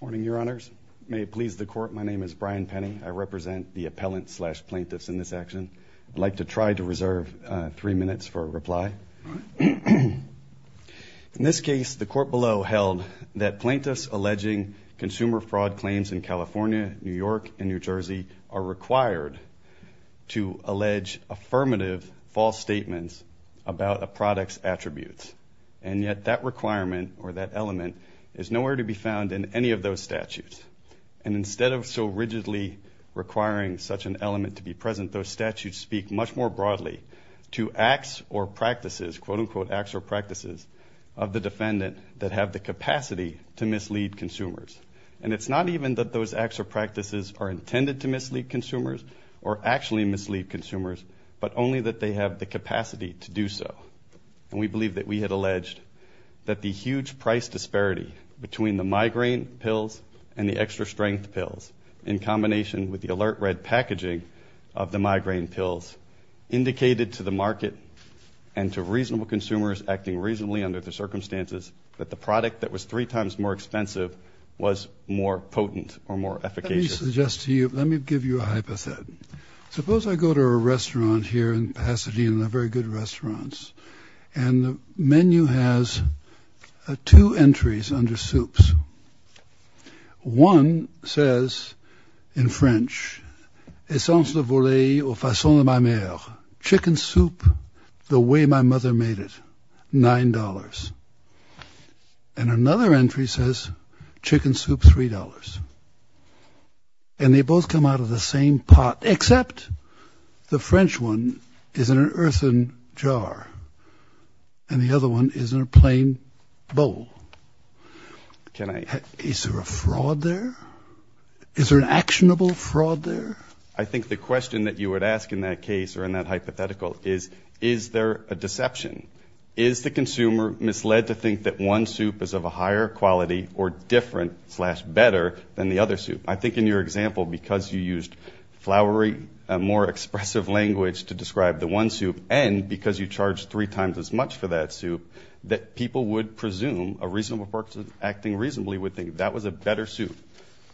Morning, Your Honors. May it please the Court, my name is Brian Penny. I represent the appellant slash plaintiffs in this action. I'd like to try to reserve three minutes for a reply. In this case, the Court below held that plaintiffs alleging consumer fraud claims in California, New York, and New Jersey are required to allege affirmative false statements about a product's and yet that requirement or that element is nowhere to be found in any of those statutes. And instead of so rigidly requiring such an element to be present, those statutes speak much more broadly to acts or practices, quote unquote acts or practices, of the defendant that have the capacity to mislead consumers. And it's not even that those acts or practices are intended to mislead consumers or actually mislead consumers, but only that they have the capacity to do so. And we believe that we had alleged that the huge price disparity between the migraine pills and the extra strength pills in combination with the alert red packaging of the migraine pills indicated to the market and to reasonable consumers acting reasonably under the circumstances that the product that was three times more expensive was more potent or more efficacious. Let me suggest to you, let me give you a very good restaurants. And the menu has two entries under soups. One says in French, it's also the bully or fossil in my mail, chicken soup, the way my mother made it $9. And another entry says chicken soup $3. And they both come out of the same pot, except the French one is in an earthen jar and the other one is in a plain bowl. Can I, is there a fraud there? Is there an actionable fraud there? I think the question that you would ask in that case or in that hypothetical is, is there a deception? Is the consumer misled to think that one soup is of a higher quality or different slash better than the other soup? I think in your example, because you used flowery, a more expressive language to describe the one soup and because you charged three times as much for that soup, that people would presume a reasonable person acting reasonably would think that was a better soup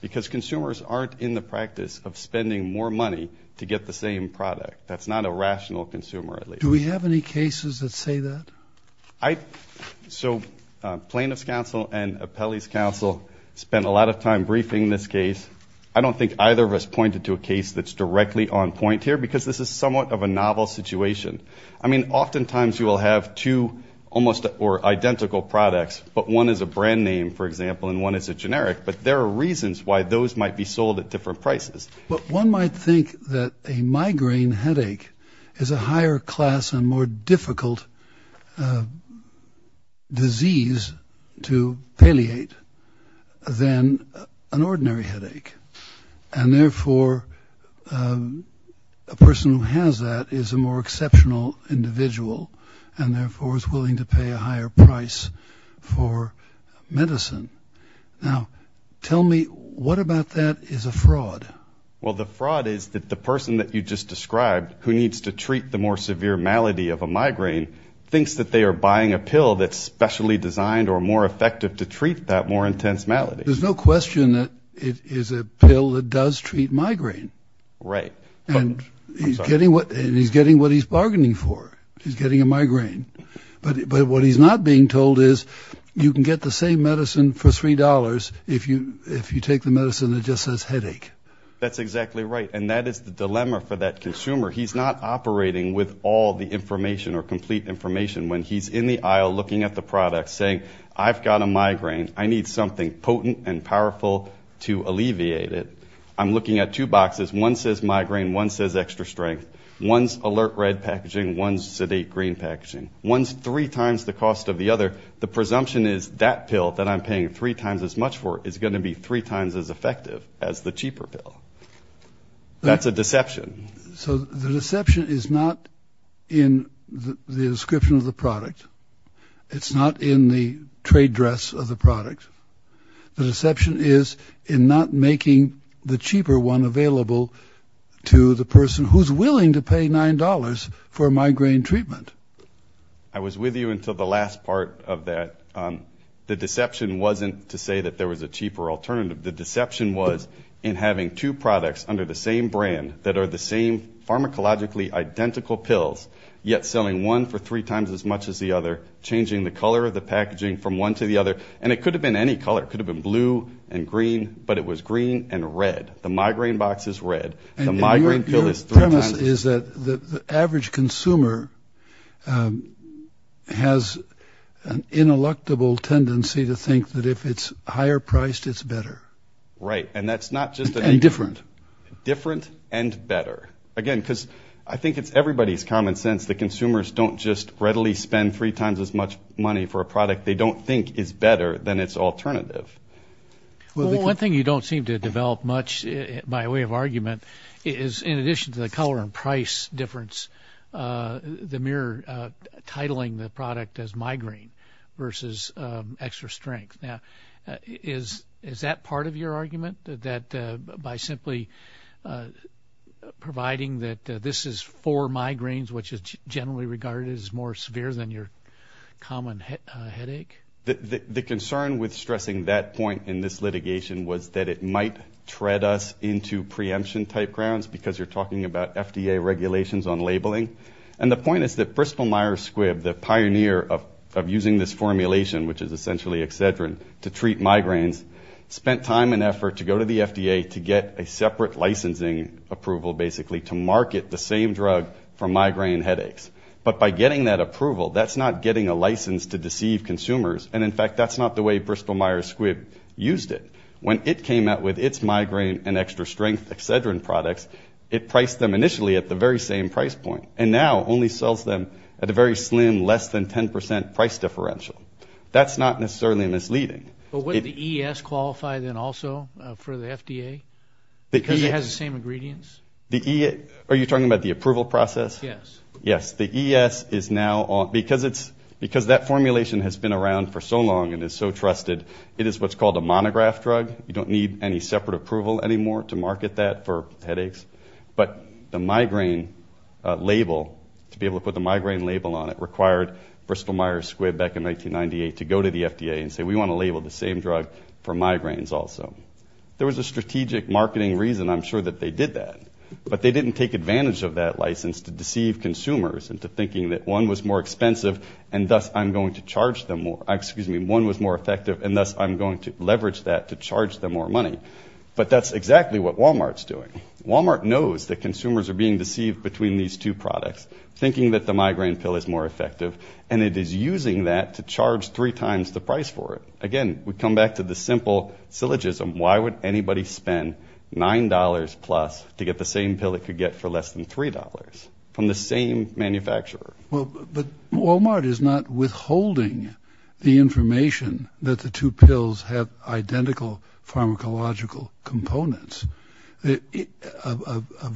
because consumers aren't in the practice of spending more money to get the same product. That's not a rational consumer at least. Do we have any cases that say that? So plaintiff's counsel and appellee's counsel spent a lot of time briefing this case. I don't think either of us pointed to a case that's directly on point here because this is somewhat of a novel situation. I mean, oftentimes you will have two almost or identical products, but one is a brand name, for example, and one is a generic. But there are reasons why those might be sold at different prices. But one might think that a migraine headache is a higher class and more difficult disease to palliate than an ordinary headache. And therefore, a person who has that is a more exceptional individual and therefore is willing to pay a higher price for medicine. Now, tell me what about that is a fraud? Well, the fraud is that the person that you just described who needs to treat the more severe malady of a migraine thinks that they are buying a pill that's specially designed or more effective to treat that more intense malady. There's no question that it is a pill that does treat migraine. Right. And he's getting what and he's getting what he's bargaining for. He's getting a migraine. But what he's not being told is you can get the same medicine for three dollars if you if you take the medicine that just says headache. That's exactly right. And that is the dilemma for that consumer. He's not operating with all the information or complete information when he's in the aisle looking at the product saying I've got a migraine. I need something potent and powerful to alleviate it. I'm looking at two boxes. One says migraine. One says extra strength. One's alert red packaging. One's sedate green packaging. One's three times the cost of the other. The presumption is that pill that I'm paying three times as much for is going to be three times as effective as the cheaper pill. That's a deception. So the deception is not in the description of the product. It's not in the trade dress of the product. The deception is in not making the cheaper one available to the person who's willing to pay nine dollars for migraine treatment. I was with you until the last part of that. The deception wasn't to say that there was a cheaper alternative. The deception was in having two products under the same brand that are the same pharmacologically identical pills, yet selling one for three times as much as the other, changing the color of the packaging from one to the other. And it could have been any color. It could have been blue and green, but it was green and red. The migraine box is red and the migraine is that the average consumer has an ineluctable tendency to think that if it's higher priced, it's better. Right. And that's not just a different, different and better again, because I think it's everybody's common sense that consumers don't just readily spend three times as much money for a product they don't think is better than its alternative. One thing you don't seem to develop much by way of argument is in addition to the color and price difference, the mere titling the product as migraine versus extra strength. Now, is is that part of your argument that by simply providing that this is for migraines, which is generally regarded as more severe than your common headache? The concern with stressing that point in this litigation was that it might tread us into preemption type grounds because you're talking about FDA regulations on labeling. And the point is that Bristol-Myers Squibb, the pioneer of using this formulation, which is essentially Excedrin to treat migraines, spent time and effort to go to the FDA to get a separate licensing approval basically to market the same drug for migraine headaches. But by getting that approval, that's not getting a license to deceive consumers. And in fact, that's not the way Bristol-Myers Squibb used it. When it came out with its migraine and extra strength Excedrin products, it priced them initially at the very same price point and now only sells them at a very slim less than 10 percent price differential. That's not necessarily misleading. But wouldn't the ES qualify then also for the FDA? Because it has the same ingredients? Are you talking about the approval process? Yes. Yes. The ES is now, because that formulation has been around for so long and is so trusted, it is what's called a monograph drug. You don't need any separate approval anymore to market that for headaches. But the migraine label, to be able to put the migraine label on it, required Bristol-Myers Squibb back in 1998 to go to the FDA and say, we want to label the same drug for migraines also. There was a strategic marketing reason, I'm sure, that they did that. But they didn't take advantage of that license to deceive consumers into thinking that one was more And thus I'm going to leverage that to charge them more money. But that's exactly what Walmart's doing. Walmart knows that consumers are being deceived between these two products, thinking that the migraine pill is more effective. And it is using that to charge three times the price for it. Again, we come back to the simple syllogism. Why would anybody spend $9 plus to get the same pill it could get for less than $3 from the same manufacturer? Well, but Walmart is not withholding the information that the two pills have identical pharmacological components. A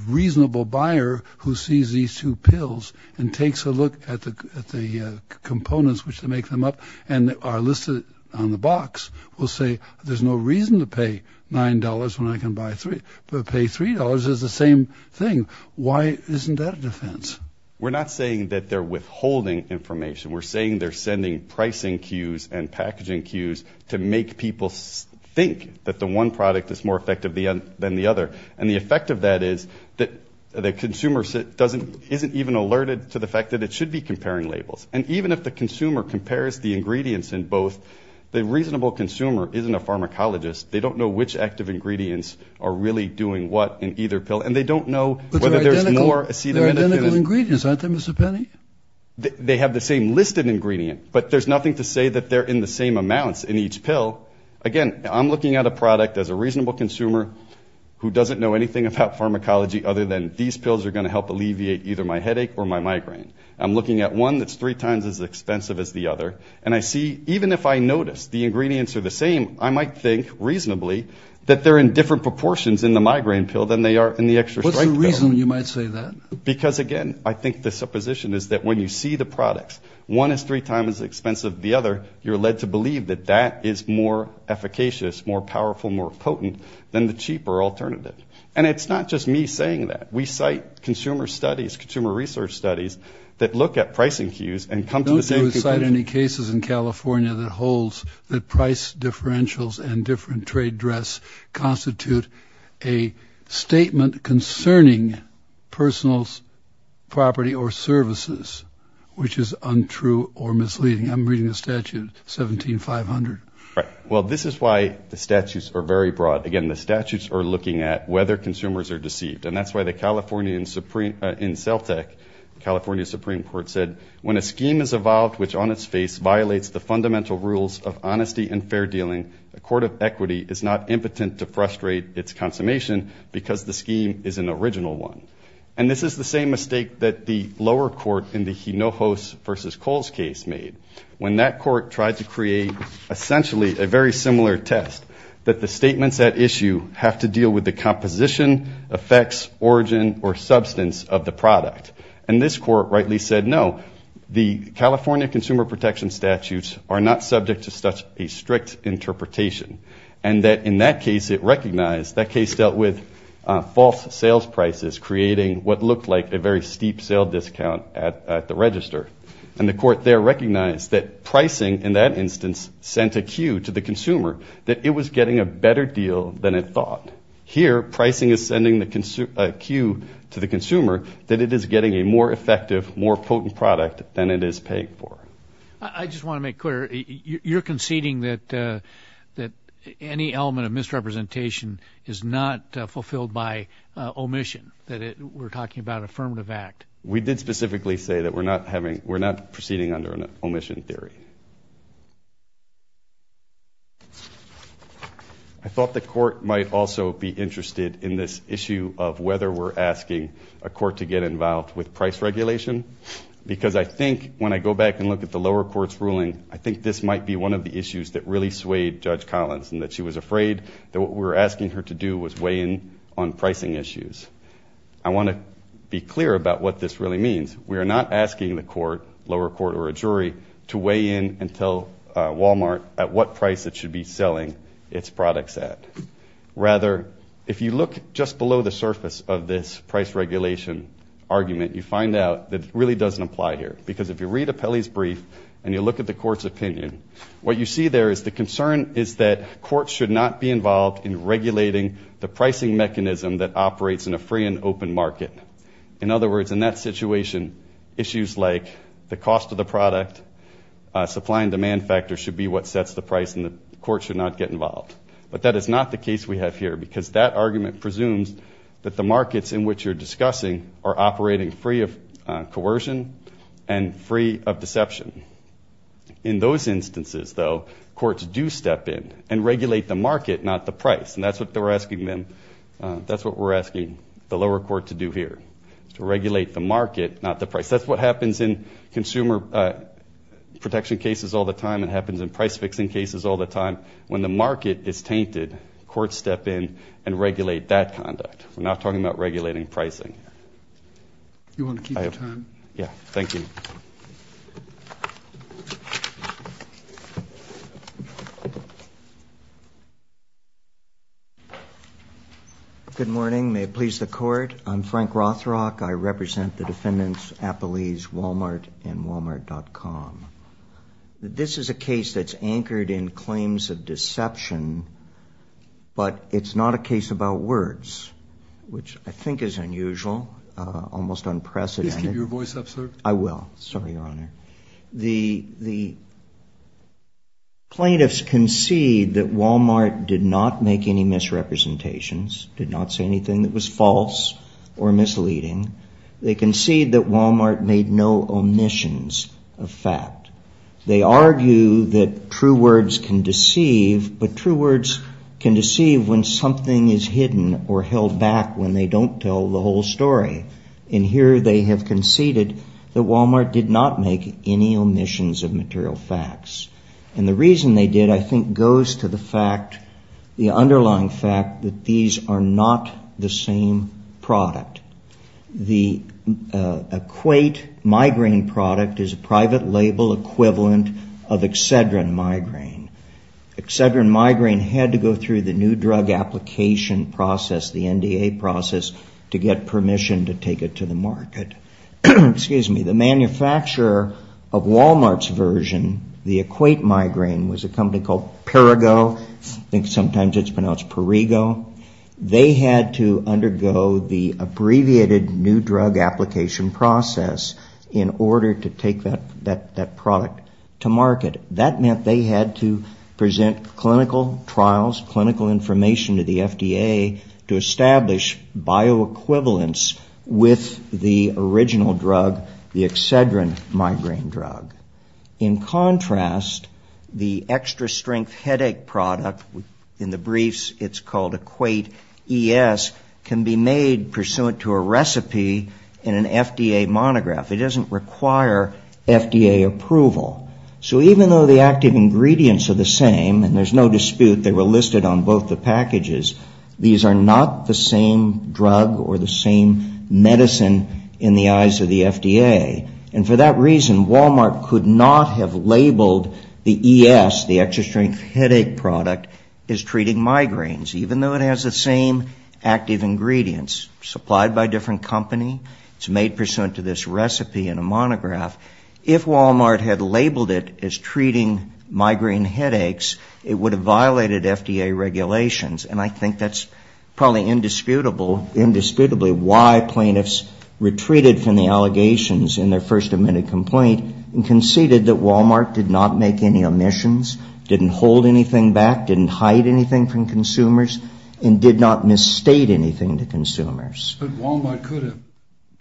reasonable buyer who sees these two pills and takes a look at the components which make them up and are listed on the box will say, there's no reason to pay $9 when I can buy three. But to pay $3 is the same thing. Why isn't that a defense? We're not saying that they're withholding information. We're saying they're sending pricing cues and packaging cues to make people think that the one product is more effective than the other. And the effect of that is that the consumer isn't even alerted to the fact that it should be comparing labels. And even if the consumer compares the ingredients in both, the reasonable consumer isn't a pharmacologist. They don't know which active ingredients are really doing what in either pill. And they don't know whether there's more acetaminophen in either pill. But they're identical ingredients, aren't they, Mr. Penny? They have the same listed ingredient. But there's nothing to say that they're in the same amounts in each pill. Again, I'm looking at a product as a reasonable consumer who doesn't know anything about pharmacology other than these pills are going to help alleviate either my headache or my migraine. I'm looking at one that's three times as expensive as the other. And I see, even if I notice the ingredients are the same, I might think, reasonably, that they're in different proportions in the migraine pill than they are in the extra-strength pill. What's the reason you might say that? Because, again, I think the supposition is that when you see the products, one is three times as expensive as the other, you're led to believe that that is more efficacious, more powerful, more potent than the cheaper alternative. And it's not just me saying that. We cite consumer studies, consumer research studies that look at pricing cues and come to the same conclusion. Don't you cite any cases in California that holds that price differentials and different trade dress constitute a statement concerning personal property or services, which is untrue or misleading? I'm reading a statute, 17-500. Right. Well, this is why the statutes are very broad. Again, the statutes are looking at whether consumers are deceived. And that's why the California, in CELTEC, the California Supreme Court said, When a scheme is evolved which on its face violates the fundamental rules of honesty and fair dealing, the Court of Equity is not impotent to frustrate its consummation because the scheme is an original one. And this is the same mistake that the lower court in the Hinojos v. Coles case made, when that court tried to create essentially a very similar test, that the statements at issue have to deal with the composition, effects, origin, or substance of the product. And this court rightly said, no, the California consumer protection statutes are not subject to such a strict interpretation. And that in that case it recognized, that case dealt with false sales prices, creating what looked like a very steep sale discount at the register. And the court there recognized that pricing, in that instance, sent a cue to the consumer that it was getting a better deal than it thought. Here pricing is sending a cue to the consumer that it is getting a more effective, more potent product than it is paying for. I just want to make clear, you're conceding that any element of misrepresentation is not fulfilled by omission, that we're talking about an affirmative act? We did specifically say that we're not proceeding under an omission theory. I thought the court might also be interested in this issue of whether we're asking a court to get involved with price regulation, because I think when I go back and look at the lower court's ruling, I think this might be one of the issues that really swayed Judge Collins, and that she was afraid that what we were asking her to do was weigh in on pricing issues. I want to be clear about what this really means. We are not asking the court, lower court or a jury, to weigh in and tell Walmart at what price it should be selling its products at. Rather, if you look just below the surface of this price regulation argument, you find out that it really doesn't apply here, because if you read Apelli's brief and you look at the court's opinion, what you see there is the concern is that courts should not be involved in regulating the pricing mechanism that operates in a free and open market. In other words, in that situation, issues like the cost of the product, supply and demand factor should be what sets the price, and the court should not get involved. But that is not the case we have here, because that argument presumes that the markets in which you're discussing are operating free of coercion and free of deception. In those instances, though, courts do step in and regulate the market, not the price, and that's what we're asking the lower court to do here, to regulate the market, not the price. That's what happens in consumer protection cases all the time. It happens in price-fixing cases all the time. When the market is tainted, courts step in and regulate that conduct. We're not talking about regulating pricing. You want to keep your time? Yeah. Thank you. Good morning. May it please the Court. I'm Frank Rothrock. I represent the defendants Walmart and Walmart.com. This is a case that's anchored in claims of deception, but it's not a case about words, which I think is unusual, almost unprecedented. Please keep your voice up, sir. I will. Sorry, Your Honor. The plaintiffs concede that Walmart did not make any misrepresentations, did not say anything that was false or misleading. They concede that Walmart made no omissions of fact. They argue that true words can deceive, but true words can deceive when something is hidden or held back when they don't tell the whole story. And here they have conceded that Walmart did not make any omissions of material facts. And the reason they did, I think, goes to the fact, that these are not the same product. The Equate Migraine product is a private label equivalent of Excedrin Migraine. Excedrin Migraine had to go through the new drug application process, the NDA process, to get permission to take it to the market. Excuse me. The manufacturer of Walmart's version, the Equate Migraine, was a company called Perigo. They had to undergo the abbreviated new drug application process in order to take that product to market. That meant they had to present clinical trials, clinical information to the FDA to establish bioequivalence with the original drug, the Excedrin Migraine drug. In contrast, the extra strength headache product, in the briefs it's called Equate ES, can be made pursuant to a recipe in an FDA monograph. It doesn't require FDA approval. So even though the active ingredients are the same, and there's no dispute they were listed on both the packages, these are not the same drug or the same medicine in the eyes of the FDA. And for that reason, Walmart could not have the ES, the extra strength headache product, as treating migraines, even though it has the same active ingredients supplied by a different company. It's made pursuant to this recipe in a monograph. If Walmart had labeled it as treating migraine headaches, it would have violated FDA regulations. And I think that's probably indisputably why plaintiffs retreated from the allegations in their first admitted complaint and conceded that Walmart did not make any omissions, didn't hold anything back, didn't hide anything from consumers, and did not misstate anything to consumers. But Walmart could have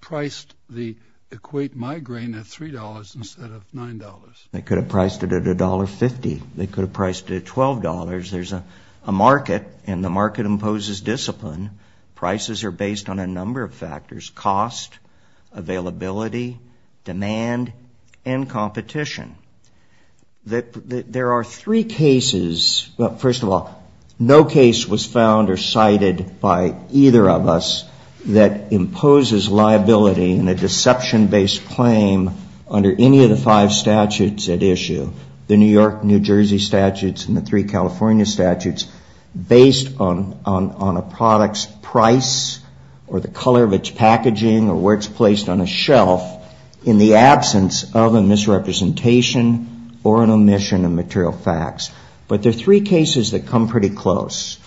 priced the Equate Migraine at $3 instead of $9. They could have priced it at $1.50. They could have priced it at $12. There's a market, and the market imposes discipline. Prices are based on a number of factors, cost, availability, demand, and competition. There are three cases, well, first of all, no case was found or cited by either of us that imposes liability in a deception-based claim under any of the five statutes at issue, the New York, New Jersey statutes, and the three California statutes, based on a product's price or the color of its packaging or where it's placed on a shelf in the absence of a misrepresentation or an omission of material facts. But there are three cases that come pretty close,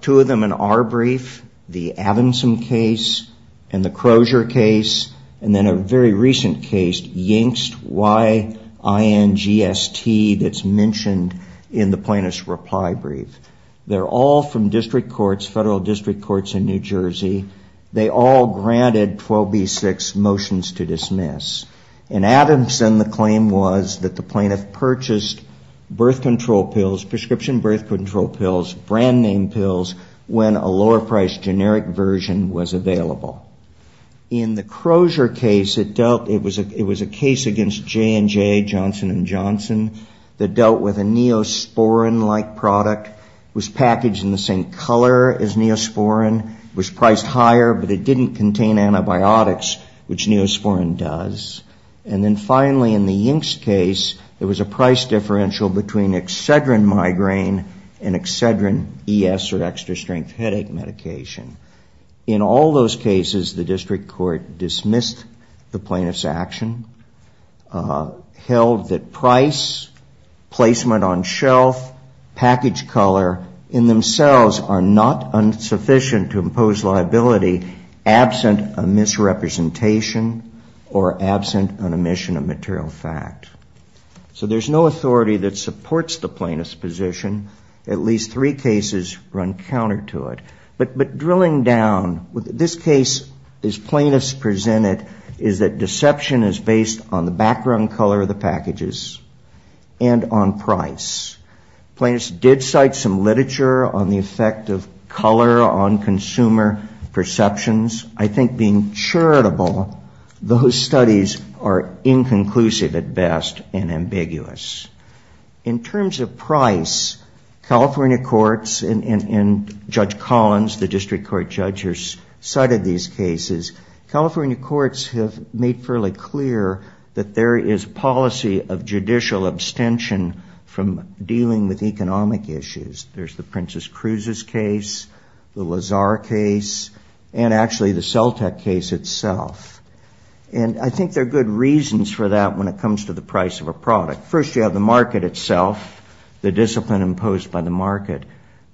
two of them in our brief, the Adamson case and the Crozier case, and then a very recent case, Yingst, Y-I-N-G-S-T, that's mentioned in the plaintiff's reply brief. They're all from district courts, federal district courts in New Jersey. They all granted 12b-6 motions to dismiss. In Adamson, the claim was that the plaintiff purchased birth control pills, prescription birth control pills, brand-name pills, when a lower-priced generic version was available. In the Crozier case, it was a case against J&J, Johnson & Johnson, that dealt with a neosporin-like product, was packaged in the same color as neosporin, was priced higher, but it didn't contain antibiotics, which neosporin does. And then finally, in the Yingst case, there was a price differential between Excedrin migraine and Excedrin ES, or extra-strength headache medication. In all those cases, the district court dismissed the plaintiff's action, held that price, placement on shelf, package color, in themselves, are not insufficient to impose liability absent a misrepresentation or absent an omission of material fact. So there's no authority that supports the plaintiff's position. At least three cases run counter to it. But drilling down, this case, as plaintiffs presented, is that deception is based on the background color of the packages and on price. Plaintiffs did cite some literature on the effect of color on consumer perceptions. I think being charitable, those studies are inconclusive at best and ambiguous. In terms of price, California courts and Judge Collins, the district court judge, cited these cases. California courts have made fairly clear that there is policy of judicial abstention from dealing with economic issues. There's the Princess Cruz's case, the Lazar case, and actually the Celtech case itself. And I think there are good reasons for that when it comes to the price of a product. First, you have the market itself, the discipline imposed by the market.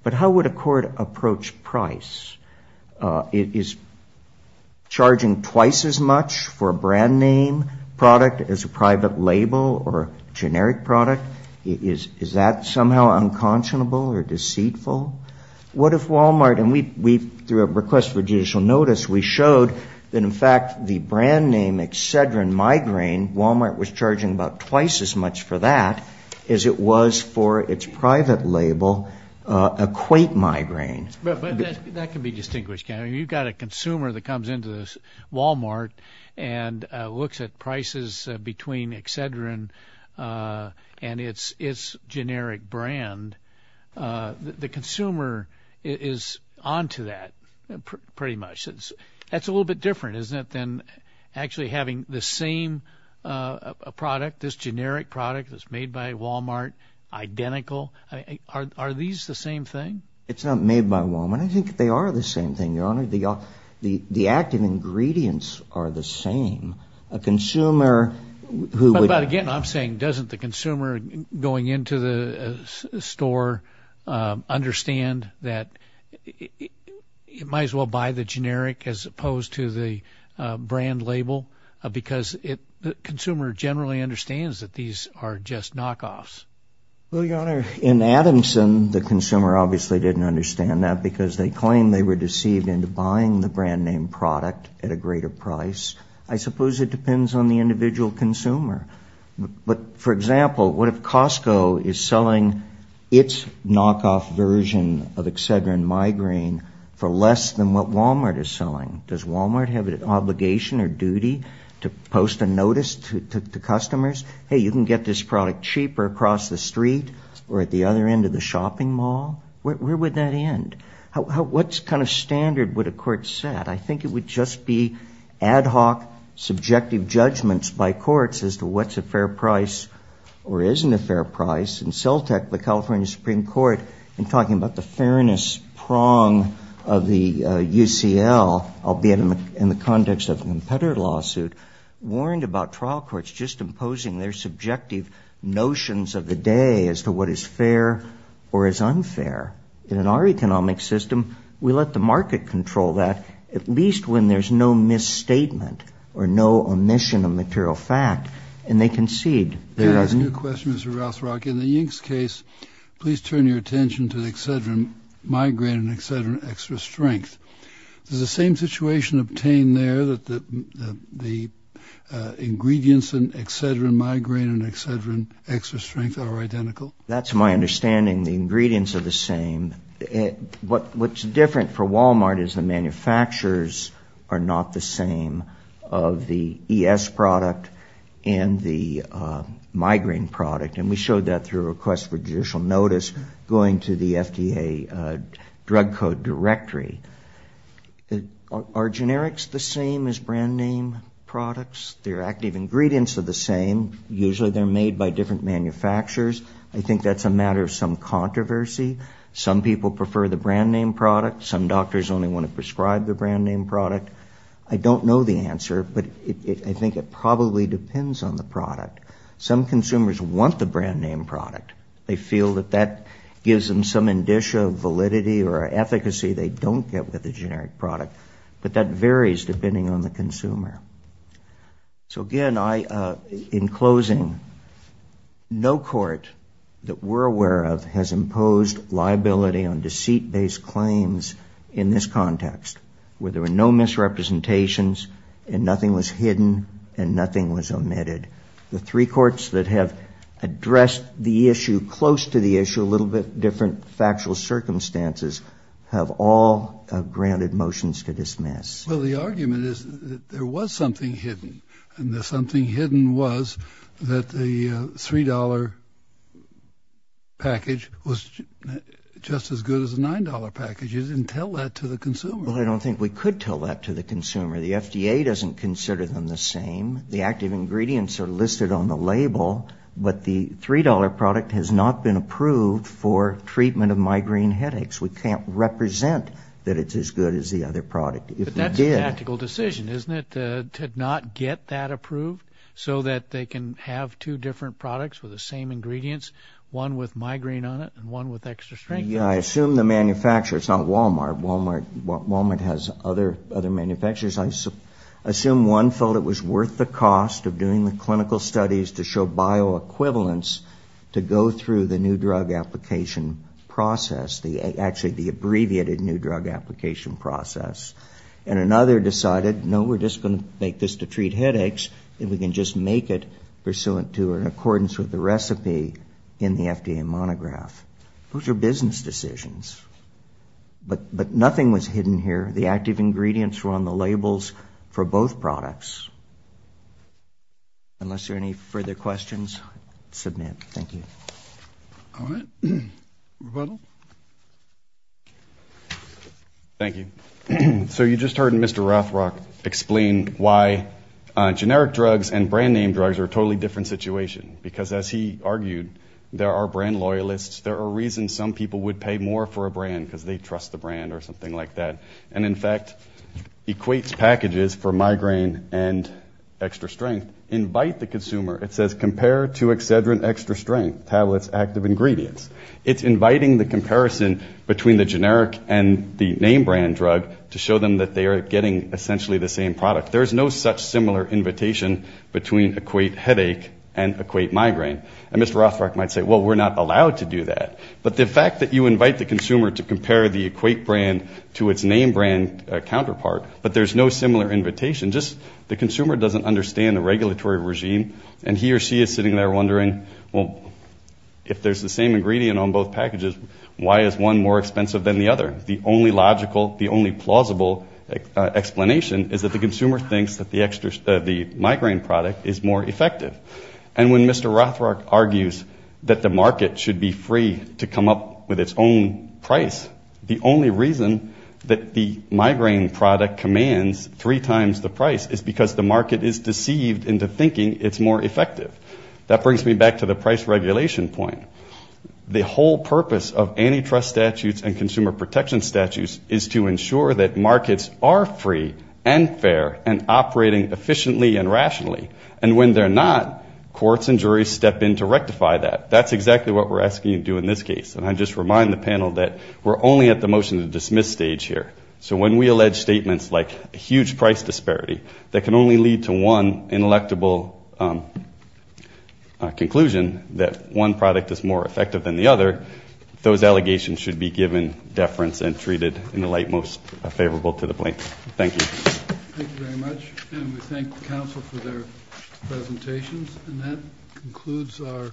But how would a court approach price? Is charging twice as much for a brand name product as a private label or generic product, is that somehow unconscionable or deceitful? What if Walmart, and through a request for judicial notice, we showed that, in fact, the brand name Excedrin Migraine, Walmart was charging about twice as much for that as it was for its private label, Equate Migraine. That can be distinguished. You've got a consumer that comes into Walmart and looks at prices between Excedrin and its generic brand. The consumer is on to that pretty much. That's a little bit different, isn't it, than actually having the same product, this generic product that's made by Walmart, identical. Are these the same thing? It's not made by Walmart. I think they are the same thing, Your Honor. The active ingredients are the same. But again, I'm saying, doesn't the consumer going into the store understand that it might as well buy the generic as opposed to the brand label? Because the consumer generally understands that these are just knockoffs. Well, Your Honor, in Adamson, the consumer obviously didn't understand that because they claimed they were deceived into buying the brand name product at a greater price. I suppose it depends on the individual consumer. But, for example, what if Costco is selling its knockoff version of Excedrin Migraine for less than what Walmart is selling? Does Walmart have an obligation or duty to post a notice to customers? Hey, you can get this product cheaper across the street or at the other end of the shopping mall. Where would that end? What kind of standard would a court set? I think it would just be ad hoc subjective judgments by courts as to what's a fair price or isn't a fair price. And CELTEC, the California Supreme Court, in talking about the fairness prong of the UCL, albeit in the context of a competitor lawsuit, warned about trial courts just imposing their subjective notions of the day as to what is fair or is unfair. In our economic system, we let the market control that, at least when there's no misstatement or no omission of material fact and they concede. Can I ask you a question, Mr. Rothrock? In the Yinks case, please turn your attention to the Excedrin Migraine and Excedrin Extra Strength. Does the same situation obtain there that the ingredients in Excedrin Migraine and Excedrin Extra Strength are identical? That's my understanding. The ingredients are the same. What's different for Walmart is the manufacturers are not the same of the ES product and the migraine product. And we showed that through a request for judicial notice going to the FDA drug code directory. Are generics the same as brand name products? Their active ingredients are the same. Usually they're made by different manufacturers. I think that's a matter of some controversy. Some people prefer the brand name product. Some doctors only want to prescribe the brand name product. I don't know the answer, but I think it probably depends on the product. Some consumers want the brand name product. They feel that that gives them some indicia of validity or efficacy they don't get with a generic product. But that varies depending on the consumer. So, again, in closing, no court that we're aware of has imposed liability on deceit-based claims in this context, where there were no misrepresentations and nothing was hidden and nothing was omitted. The three courts that have addressed the issue close to the issue, a little bit different factual circumstances, have all granted motions to dismiss. Well, the argument is that there was something hidden, and the something hidden was that the $3 package was just as good as the $9 package. You didn't tell that to the consumer. Well, I don't think we could tell that to the consumer. The FDA doesn't consider them the same. The active ingredients are listed on the label, but the $3 product has not been approved for treatment of migraine headaches. We can't represent that it's as good as the other product. But that's a tactical decision, isn't it, to not get that approved, so that they can have two different products with the same ingredients, one with migraine on it and one with extra strength. Yeah, I assume the manufacturers, not Walmart. Walmart has other manufacturers. I assume one felt it was worth the cost of doing the clinical studies to show bioequivalence to go through the new drug application process, actually the abbreviated new drug application process. And another decided, no, we're just going to make this to treat headaches, and we can just make it pursuant to or in accordance with the recipe in the FDA monograph. Those are business decisions. But nothing was hidden here. The active ingredients were on the labels for both products. Unless there are any further questions, submit. Thank you. All right. Rebuttal. Thank you. So you just heard Mr. Rothrock explain why generic drugs and brand name drugs are a totally different situation. Because as he argued, there are brand loyalists, there are reasons some people would pay more for a brand because they trust the brand or something like that. And, in fact, Equate's packages for migraine and extra strength invite the consumer. It says, compare to Excedrin Extra Strength tablets active ingredients. It's inviting the comparison between the generic and the name brand drug to show them that they are getting essentially the same product. There is no such similar invitation between Equate headache and Equate migraine. And Mr. Rothrock might say, well, we're not allowed to do that. But the fact that you invite the consumer to compare the Equate brand to its name brand counterpart, but there's no similar invitation, just the consumer doesn't understand the regulatory regime. And he or she is sitting there wondering, well, if there's the same ingredient on both packages, why is one more expensive than the other? The only logical, the only plausible explanation is that the consumer thinks that the migraine product is more effective. And when Mr. Rothrock argues that the market should be free to come up with its own price, the only reason that the migraine product commands three times the price is because the market is deceived into thinking it's more effective. That brings me back to the price regulation point. The whole purpose of antitrust statutes and consumer protection statutes is to ensure that markets are free and fair and operating efficiently and rationally. And when they're not, courts and juries step in to rectify that. That's exactly what we're asking you to do in this case. And I just remind the panel that we're only at the motion to dismiss stage here. So when we allege statements like a huge price disparity that can only lead to one ineluctable conclusion, that one product is more effective than the other, those allegations should be given deference and treated in the light most favorable to the plaintiff. Thank you. Thank you very much. And we thank the council for their presentations. And that concludes our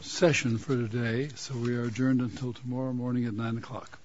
session for today. So we are adjourned until tomorrow morning at 9 o'clock.